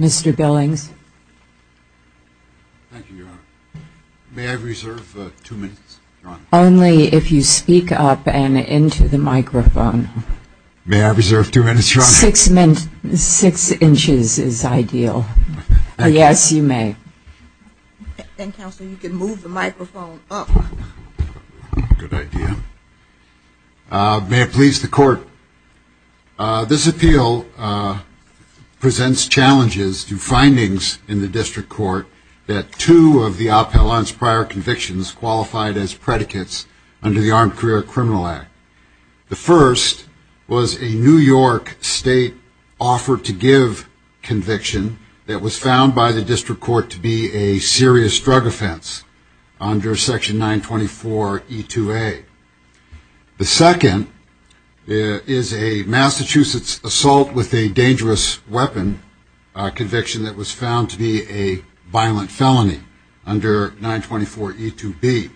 Mr. Billings. Thank you, Your Honor. May I reserve two minutes, Your Honor? Only if you speak up and into the microphone. May I reserve two minutes, Your Honor? Six inches is ideal. Yes, you may. And, Counsel, you can move the microphone up. Good idea. May it please the Court. This appeal presents challenges to findings in the District Court that two of the appellant's prior convictions qualified as predicates under the Armed Career Criminal Act. The first was a New York State offer-to-give conviction that was found by the District Court to be a serious drug offense under Section 924E2A. The second is a Massachusetts assault with a dangerous weapon conviction that was found to be a violent felony under 924E2B.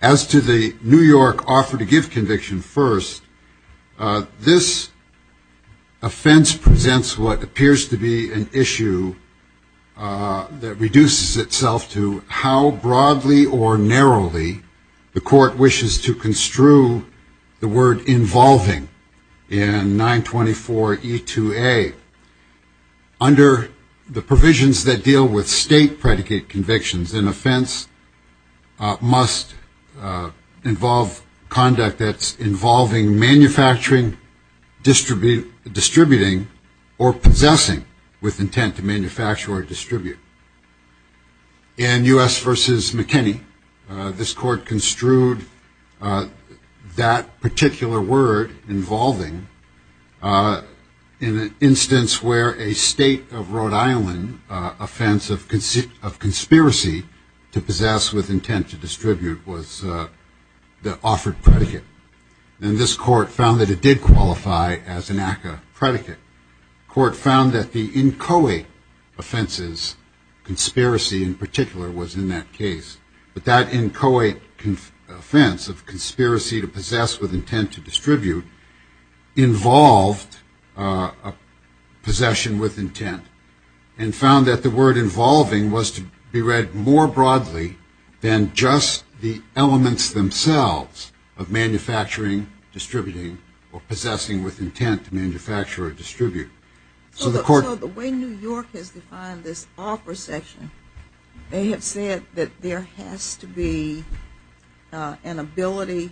As to the New York offer-to-give conviction first, this offense presents what appears to be an issue that reduces itself to how broadly or narrowly the Court wishes to construe the word involving in 924E2A. Under the provisions that deal with state predicate convictions, an offense must involve conduct that's involving manufacturing, distributing, or possessing with intent to manufacture or distribute. In U.S. v. McKinney, this Court construed that particular word involving in an instance where a state of Rhode Island offense of conspiracy to possess with intent to distribute was the offered predicate. And this Court found that it did qualify as an ACCA predicate. The Court found that the inchoate offenses, conspiracy in particular, was in that case. But that inchoate offense of conspiracy to possess with intent to distribute involved possession with intent and found that the word involving was to be read more broadly than just the elements themselves of manufacturing, distributing, or possessing with intent to manufacture or distribute. So the way New York has defined this offer section, they have said that there has to be an ability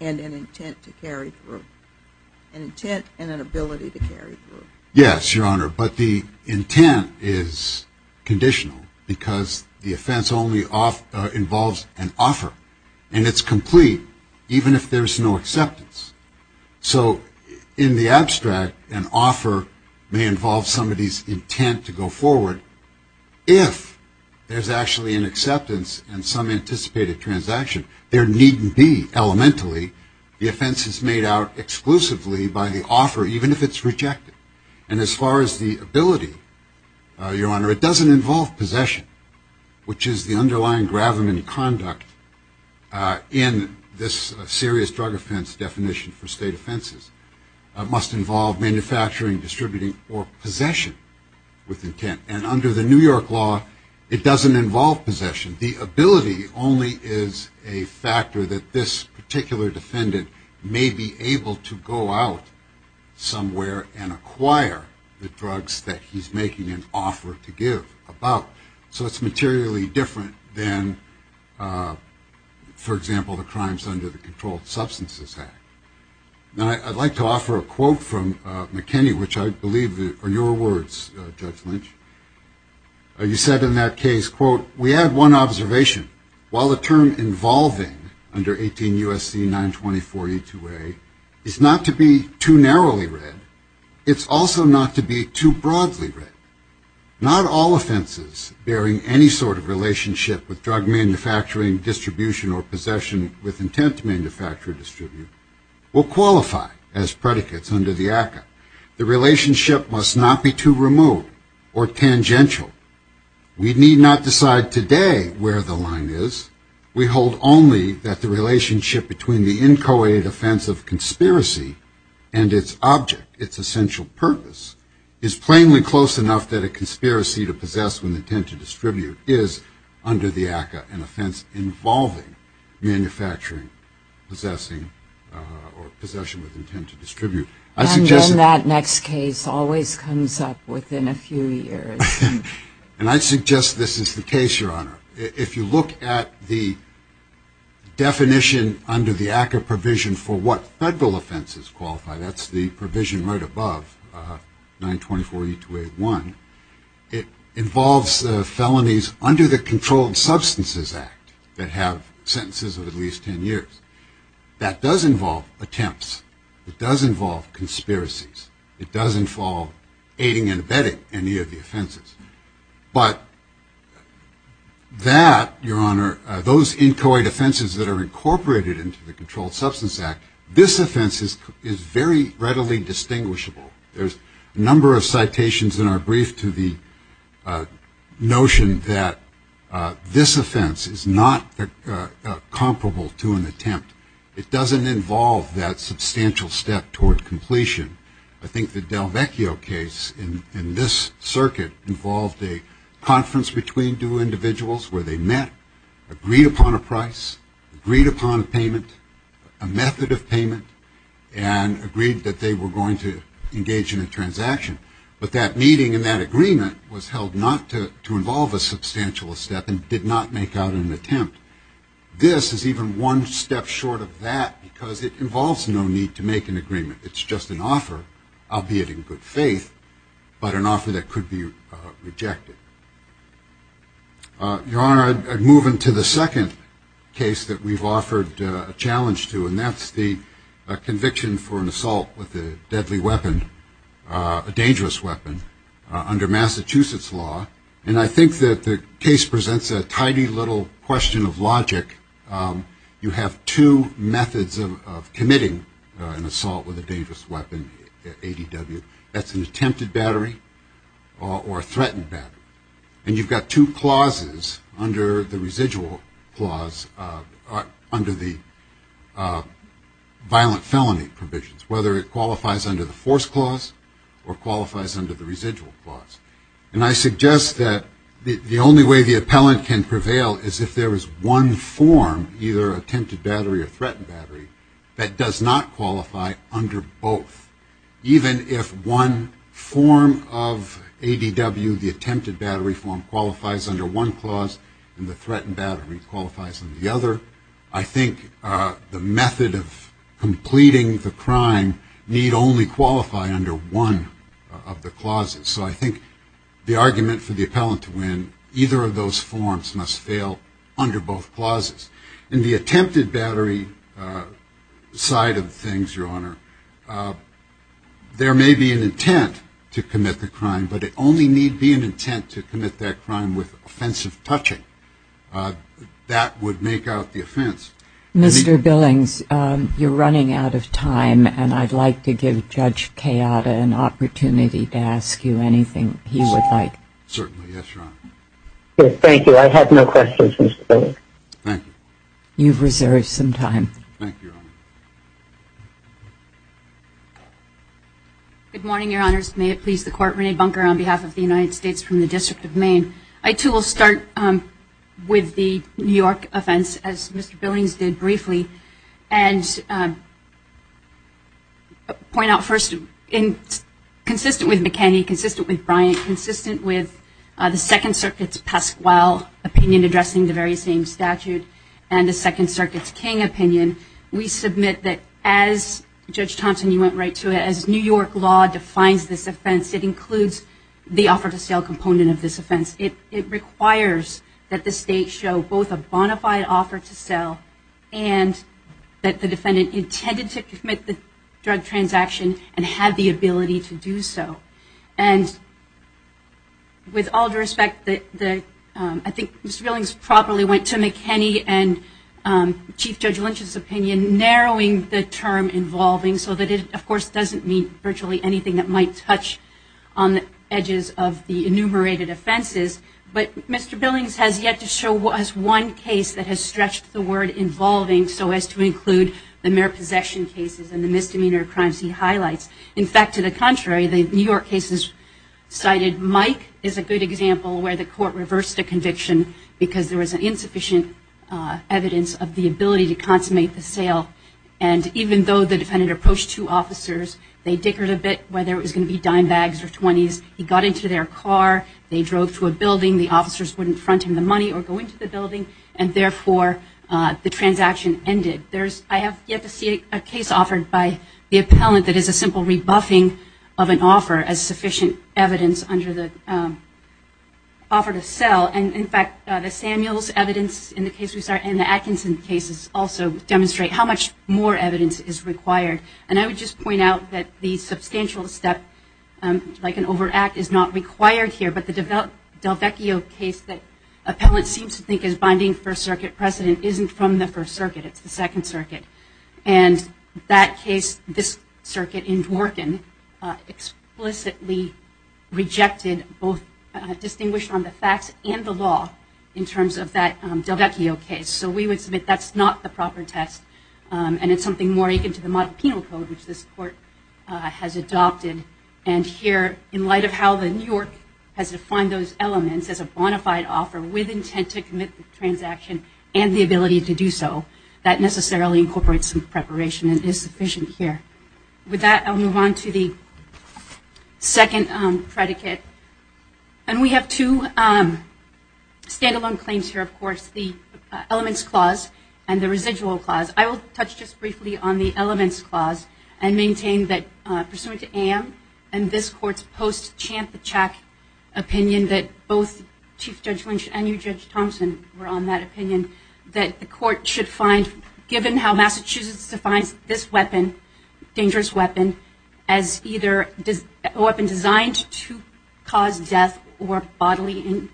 and an intent to carry through. An intent and an ability to carry through. Yes, Your Honor, but the intent is conditional because the offense only involves an offer. And it's complete even if there's no acceptance. So in the abstract, an offer may involve somebody's intent to go forward if there's actually an acceptance and some anticipated transaction. There needn't be, elementally. The offense is made out exclusively by the offer, even if it's rejected. And as far as the ability, Your Honor, it doesn't involve possession, which is the underlying gravamen conduct in this serious drug offense definition for state offenses. It must involve manufacturing, distributing, or possession with intent. And under the New York law, it doesn't involve possession. The ability only is a factor that this particular defendant may be able to go out somewhere and acquire the drugs that he's making an offer to give about. So it's materially different than, for example, the crimes under the Controlled Substances Act. Now, I'd like to offer a quote from McKinney, which I believe are your words, Judge Lynch. You said in that case, quote, We had one observation. While the term involving, under 18 U.S.C. 924E2A, is not to be too narrowly read, it's also not to be too broadly read. Not all offenses bearing any sort of relationship with drug manufacturing, distribution, or possession with intent to manufacture or distribute will qualify as predicates under the ACCA. The relationship must not be too remote or tangential. We need not decide today where the line is. We hold only that the relationship between the inchoate offense of conspiracy and its object, its essential purpose, is plainly close enough that a conspiracy to possess with intent to distribute is under the ACCA an offense involving manufacturing, possessing, or possession with intent to distribute. And then that next case always comes up within a few years. And I suggest this is the case, Your Honor. If you look at the definition under the ACCA provision for what federal offenses qualify, that's the provision right above, 924E281, it involves felonies under the Controlled Substances Act that have sentences of at least 10 years. That does involve attempts. It does involve conspiracies. It does involve aiding and abetting any of the offenses. But that, Your Honor, those inchoate offenses that are incorporated into the Controlled Substances Act, this offense is very readily distinguishable. There's a number of citations in our brief to the notion that this offense is not comparable to an attempt. It doesn't involve that substantial step toward completion. I think the Delvecchio case in this circuit involved a conference between two individuals where they met, agreed upon a price, agreed upon a payment, a method of payment, and agreed that they were going to engage in a transaction. But that meeting and that agreement was held not to involve a substantial step and did not make out an attempt. This is even one step short of that because it involves no need to make an agreement. It's just an offer, albeit in good faith, but an offer that could be rejected. Your Honor, I'd move into the second case that we've offered a challenge to, and that's the conviction for an assault with a deadly weapon, a dangerous weapon, under Massachusetts law. And I think that the case presents a tidy little question of logic. You have two methods of committing an assault with a dangerous weapon, ADW. That's an attempted battery or a threatened battery. And you've got two clauses under the residual clause under the violent felony provisions, whether it qualifies under the force clause or qualifies under the residual clause. And I suggest that the only way the appellant can prevail is if there is one form, either attempted battery or threatened battery, that does not qualify under both, even if one form of ADW, the attempted battery form, qualifies under one clause and the threatened battery qualifies under the other. I think the method of completing the crime need only qualify under one of the clauses. So I think the argument for the appellant to win, either of those forms must fail under both clauses. In the attempted battery side of things, Your Honor, there may be an intent to commit the crime, but it only need be an intent to commit that crime with offensive touching. That would make out the offense. Mr. Billings, you're running out of time, and I'd like to give Judge Chiata an opportunity to ask you anything he would like. Certainly. Yes, Your Honor. Thank you. I have no questions, Mr. Billings. Thank you. You've reserved some time. Thank you, Your Honor. Good morning, Your Honors. May it please the Court, Renee Bunker on behalf of the United States from the District of Maine. I, too, will start with the New York offense, as Mr. Billings did briefly, and point out first, consistent with McKinney, consistent with Bryant, and consistent with the Second Circuit's Pasquale opinion addressing the very same statute and the Second Circuit's King opinion, we submit that as Judge Thompson, you went right to it, as New York law defines this offense, it includes the offer to sell component of this offense. It requires that the State show both a bona fide offer to sell and that the defendant intended to commit the drug transaction and had the ability to do so. And with all due respect, I think Mr. Billings properly went to McKinney and Chief Judge Lynch's opinion narrowing the term involving so that it, of course, doesn't mean virtually anything that might touch on the edges of the enumerated offenses. But Mr. Billings has yet to show us one case that has stretched the word involving so as to include the mere possession cases and the misdemeanor crimes he highlights. In fact, to the contrary, the New York cases cited Mike as a good example where the court reversed the conviction because there was insufficient evidence of the ability to consummate the sale. And even though the defendant approached two officers, they dickered a bit whether it was going to be dime bags or 20s. He got into their car. They drove to a building. The officers wouldn't front him the money or go into the building, and therefore the transaction ended. I have yet to see a case offered by the appellant that is a simple rebuffing of an offer as sufficient evidence under the offer to sell. And, in fact, the Samuels evidence in the case we saw and the Atkinson cases also demonstrate how much more evidence is required. And I would just point out that the substantial step, like an overact, is not required here, but the Delvecchio case that appellants seem to think is binding First Circuit precedent isn't from the First Circuit. It's the Second Circuit. And that case, this circuit in Dworkin, explicitly rejected both distinguished on the facts and the law in terms of that Delvecchio case. So we would submit that's not the proper test, and it's something more akin to the model penal code, which this court has adopted. And here, in light of how the New York has defined those elements as a bona fide offer with intent to commit the transaction and the ability to do so, that necessarily incorporates some preparation and is sufficient here. With that, I'll move on to the second predicate. And we have two stand-alone claims here, of course, the Elements Clause and the Residual Clause. I will touch just briefly on the Elements Clause and maintain that, and this court's post-Champachack opinion that both Chief Judge Lynch and you, Judge Thompson, were on that opinion, that the court should find, given how Massachusetts defines this weapon, dangerous weapon, as either a weapon designed to cause death or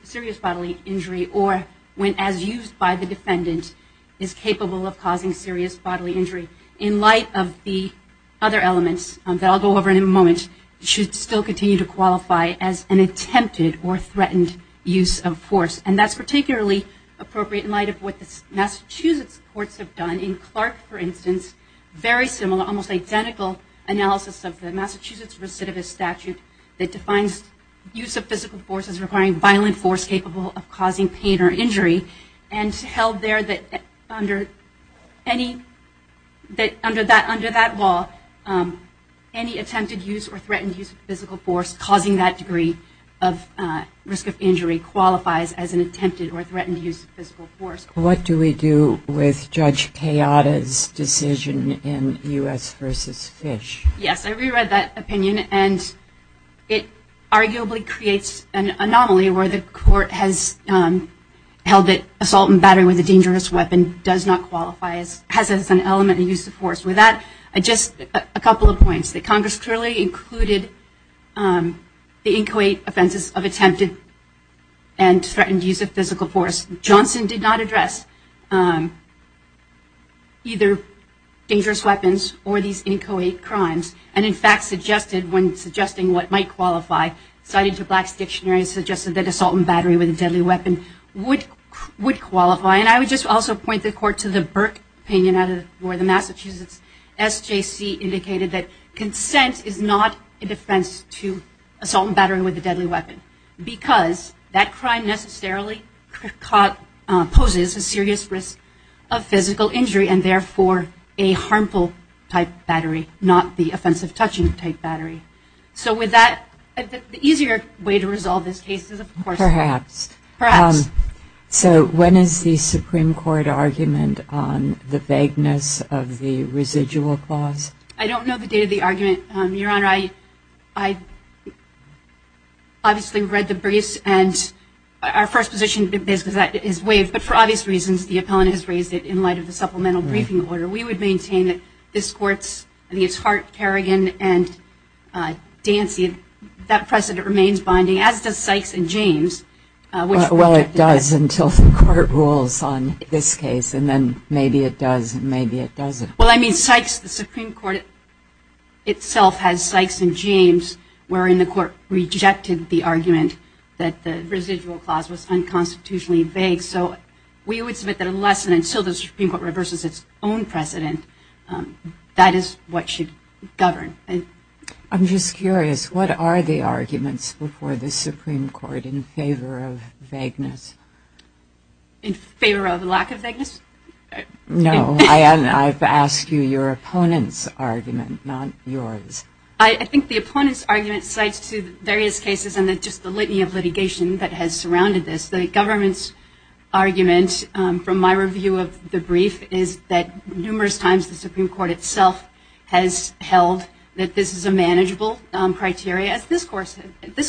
serious bodily injury, or when, as used by the defendant, is capable of causing serious bodily injury. In light of the other elements that I'll go over in a moment, it should still continue to qualify as an attempted or threatened use of force. And that's particularly appropriate in light of what the Massachusetts courts have done. In Clark, for instance, very similar, almost identical analysis of the Massachusetts recidivist statute that defines use of physical force as requiring violent force capable of causing pain or injury, and held there that under that law, any attempted use or threatened use of physical force causing that degree of risk of injury qualifies as an attempted or threatened use of physical force. What do we do with Judge Kayada's decision in U.S. v. Fish? Yes, I reread that opinion, and it arguably creates an anomaly where the court has held that assault and battery with a dangerous weapon does not qualify as, has as an element of use of force. With that, just a couple of points, that Congress clearly included the inchoate offenses of attempted and threatened use of physical force. Johnson did not address either dangerous weapons or these inchoate crimes, and in fact suggested, when suggesting what might qualify, cited to Black's dictionary and suggested that assault and battery with a deadly weapon would qualify, and I would just also point the court to the Burke opinion where the Massachusetts SJC indicated that consent is not a defense to assault and battery with a deadly weapon because that crime necessarily poses a serious risk of physical injury and therefore a harmful type battery, not the offensive touching type battery. So with that, the easier way to resolve this case is, of course... Perhaps. Perhaps. So when is the Supreme Court argument on the vagueness of the residual clause? I don't know the date of the argument, Your Honor. I obviously read the briefs, and our first position is that it is waived, but for obvious reasons the appellant has raised it in light of the supplemental briefing order. We would maintain that this Court's, I think it's Hart, Kerrigan, and Dancy, that precedent remains binding, as does Sykes and James. Well, it does until the Court rules on this case, and then maybe it does and maybe it doesn't. Well, I mean Sykes, the Supreme Court itself has Sykes and James, wherein the Court rejected the argument that the residual clause was unconstitutionally vague, and so we would submit that unless and until the Supreme Court reverses its own precedent, that is what should govern. I'm just curious, what are the arguments before the Supreme Court in favor of vagueness? In favor of lack of vagueness? No, I've asked you your opponent's argument, not yours. I think the opponent's argument cites to various cases and just the litany of litigation that has surrounded this, the government's argument, from my review of the brief, is that numerous times the Supreme Court itself has held that this is a manageable criteria, as this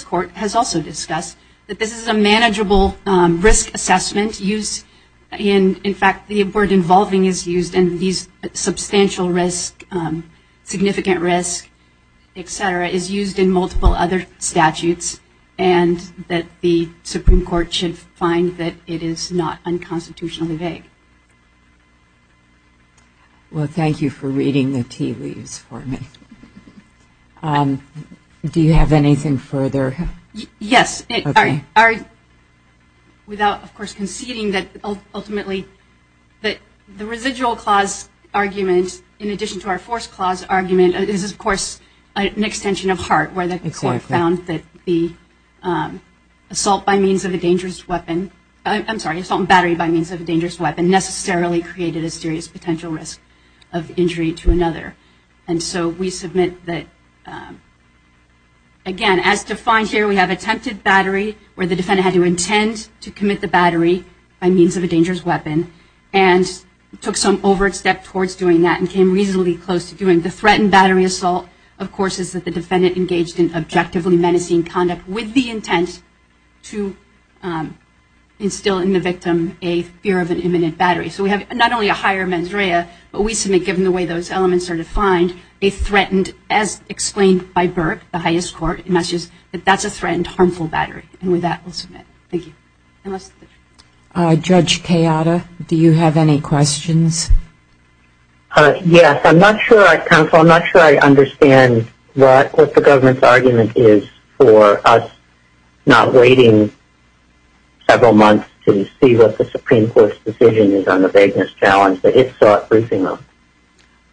Court has also discussed, that this is a manageable risk assessment used in, in fact the word involving is used in these substantial risk, significant risk, et cetera, is used in multiple other statutes, and that the Supreme Court should find that it is not unconstitutionally vague. Well, thank you for reading the tea leaves for me. Do you have anything further? Yes. Without, of course, conceding that ultimately the residual clause argument, in addition to our force clause argument, is, of course, an extension of Hart, where the Court found that the assault by means of a dangerous weapon, I'm sorry, assault and battery by means of a dangerous weapon necessarily created a serious potential risk of injury to another. And so we submit that, again, as defined here, we have attempted battery, where the defendant had to intend to commit the battery by means of a dangerous weapon and took some overt step towards doing that and came reasonably close to doing it. The threatened battery assault, of course, is that the defendant engaged in objectively menacing conduct with the intent to instill in the victim a fear of an imminent battery. So we have not only a higher mens rea, but we submit, given the way those elements are defined, a threatened, as explained by Burke, the highest court in Massachusetts, that that's a threatened harmful battery. And with that, we'll submit. Thank you. Judge Kayada, do you have any questions? Yes. I'm not sure, counsel, I'm not sure I understand what the government's argument is for us not waiting several months to see what the Supreme Court's decision is on the vagueness challenge that it sought briefing on.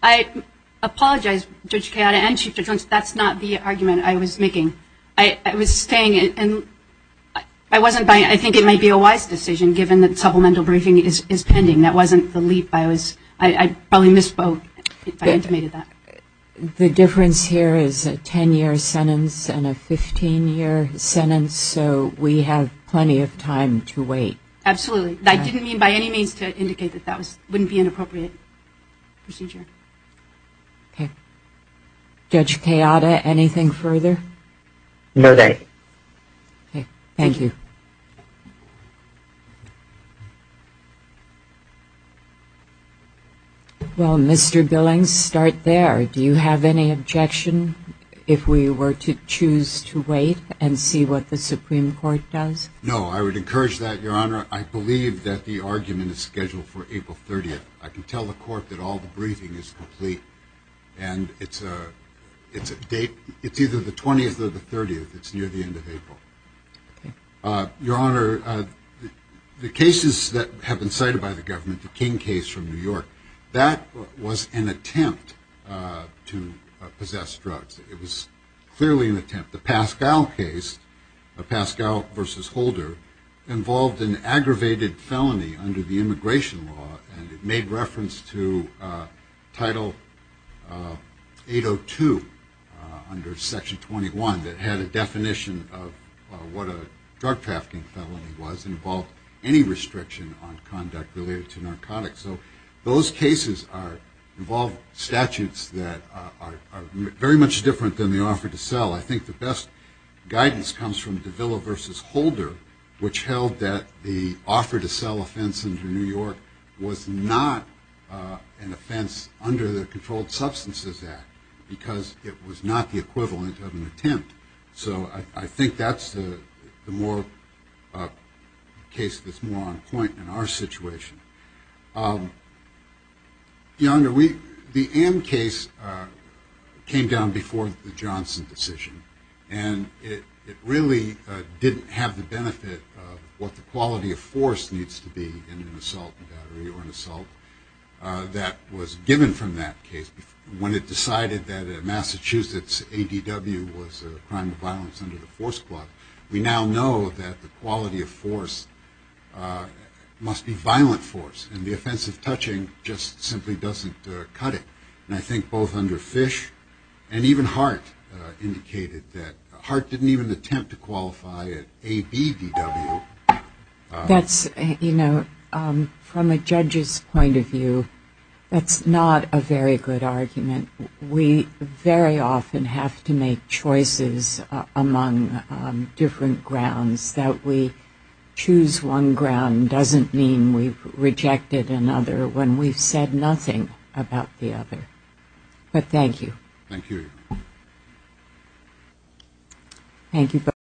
I apologize, Judge Kayada and Chief Judge Jones, that's not the argument I was making. I think it might be a wise decision, given that supplemental briefing is pending. That wasn't the leap. I probably misspoke if I intimated that. The difference here is a 10-year sentence and a 15-year sentence, so we have plenty of time to wait. Absolutely. I didn't mean by any means to indicate that that wouldn't be an appropriate procedure. Okay. Judge Kayada, anything further? No, thank you. Okay. Thank you. Well, Mr. Billings, start there. Do you have any objection if we were to choose to wait and see what the Supreme Court does? No, I would encourage that, Your Honor. I believe that the argument is scheduled for April 30th. I can tell the court that all the briefing is complete, and it's either the 20th or the 30th. It's near the end of April. Your Honor, the cases that have been cited by the government, the King case from New York, that was an attempt to possess drugs. It was clearly an attempt. The Pascal case, the Pascal v. Holder, involved an aggravated felony under the immigration law, and it made reference to Title 802 under Section 21 that had a definition of what a drug trafficking felony was and involved any restriction on conduct related to narcotics. So those cases involve statutes that are very much different than the offer to sell. I think the best guidance comes from Davila v. Holder, which held that the offer to sell offense under New York was not an offense under the Controlled Substances Act because it was not the equivalent of an attempt. So I think that's the case that's more on point in our situation. Your Honor, the Amn case came down before the Johnson decision, and it really didn't have the benefit of what the quality of force needs to be in an assault and battery or an assault that was given from that case. When it decided that Massachusetts ADW was a crime of violence under the force clause, we now know that the quality of force must be violent force, and the offensive touching just simply doesn't cut it. And I think both under Fish and even Hart indicated that Hart didn't even attempt to qualify at ABDW. That's, you know, from a judge's point of view, that's not a very good argument. We very often have to make choices among different grounds. That we choose one ground doesn't mean we've rejected another when we've said nothing about the other. But thank you. Thank you, Your Honor. Thank you both.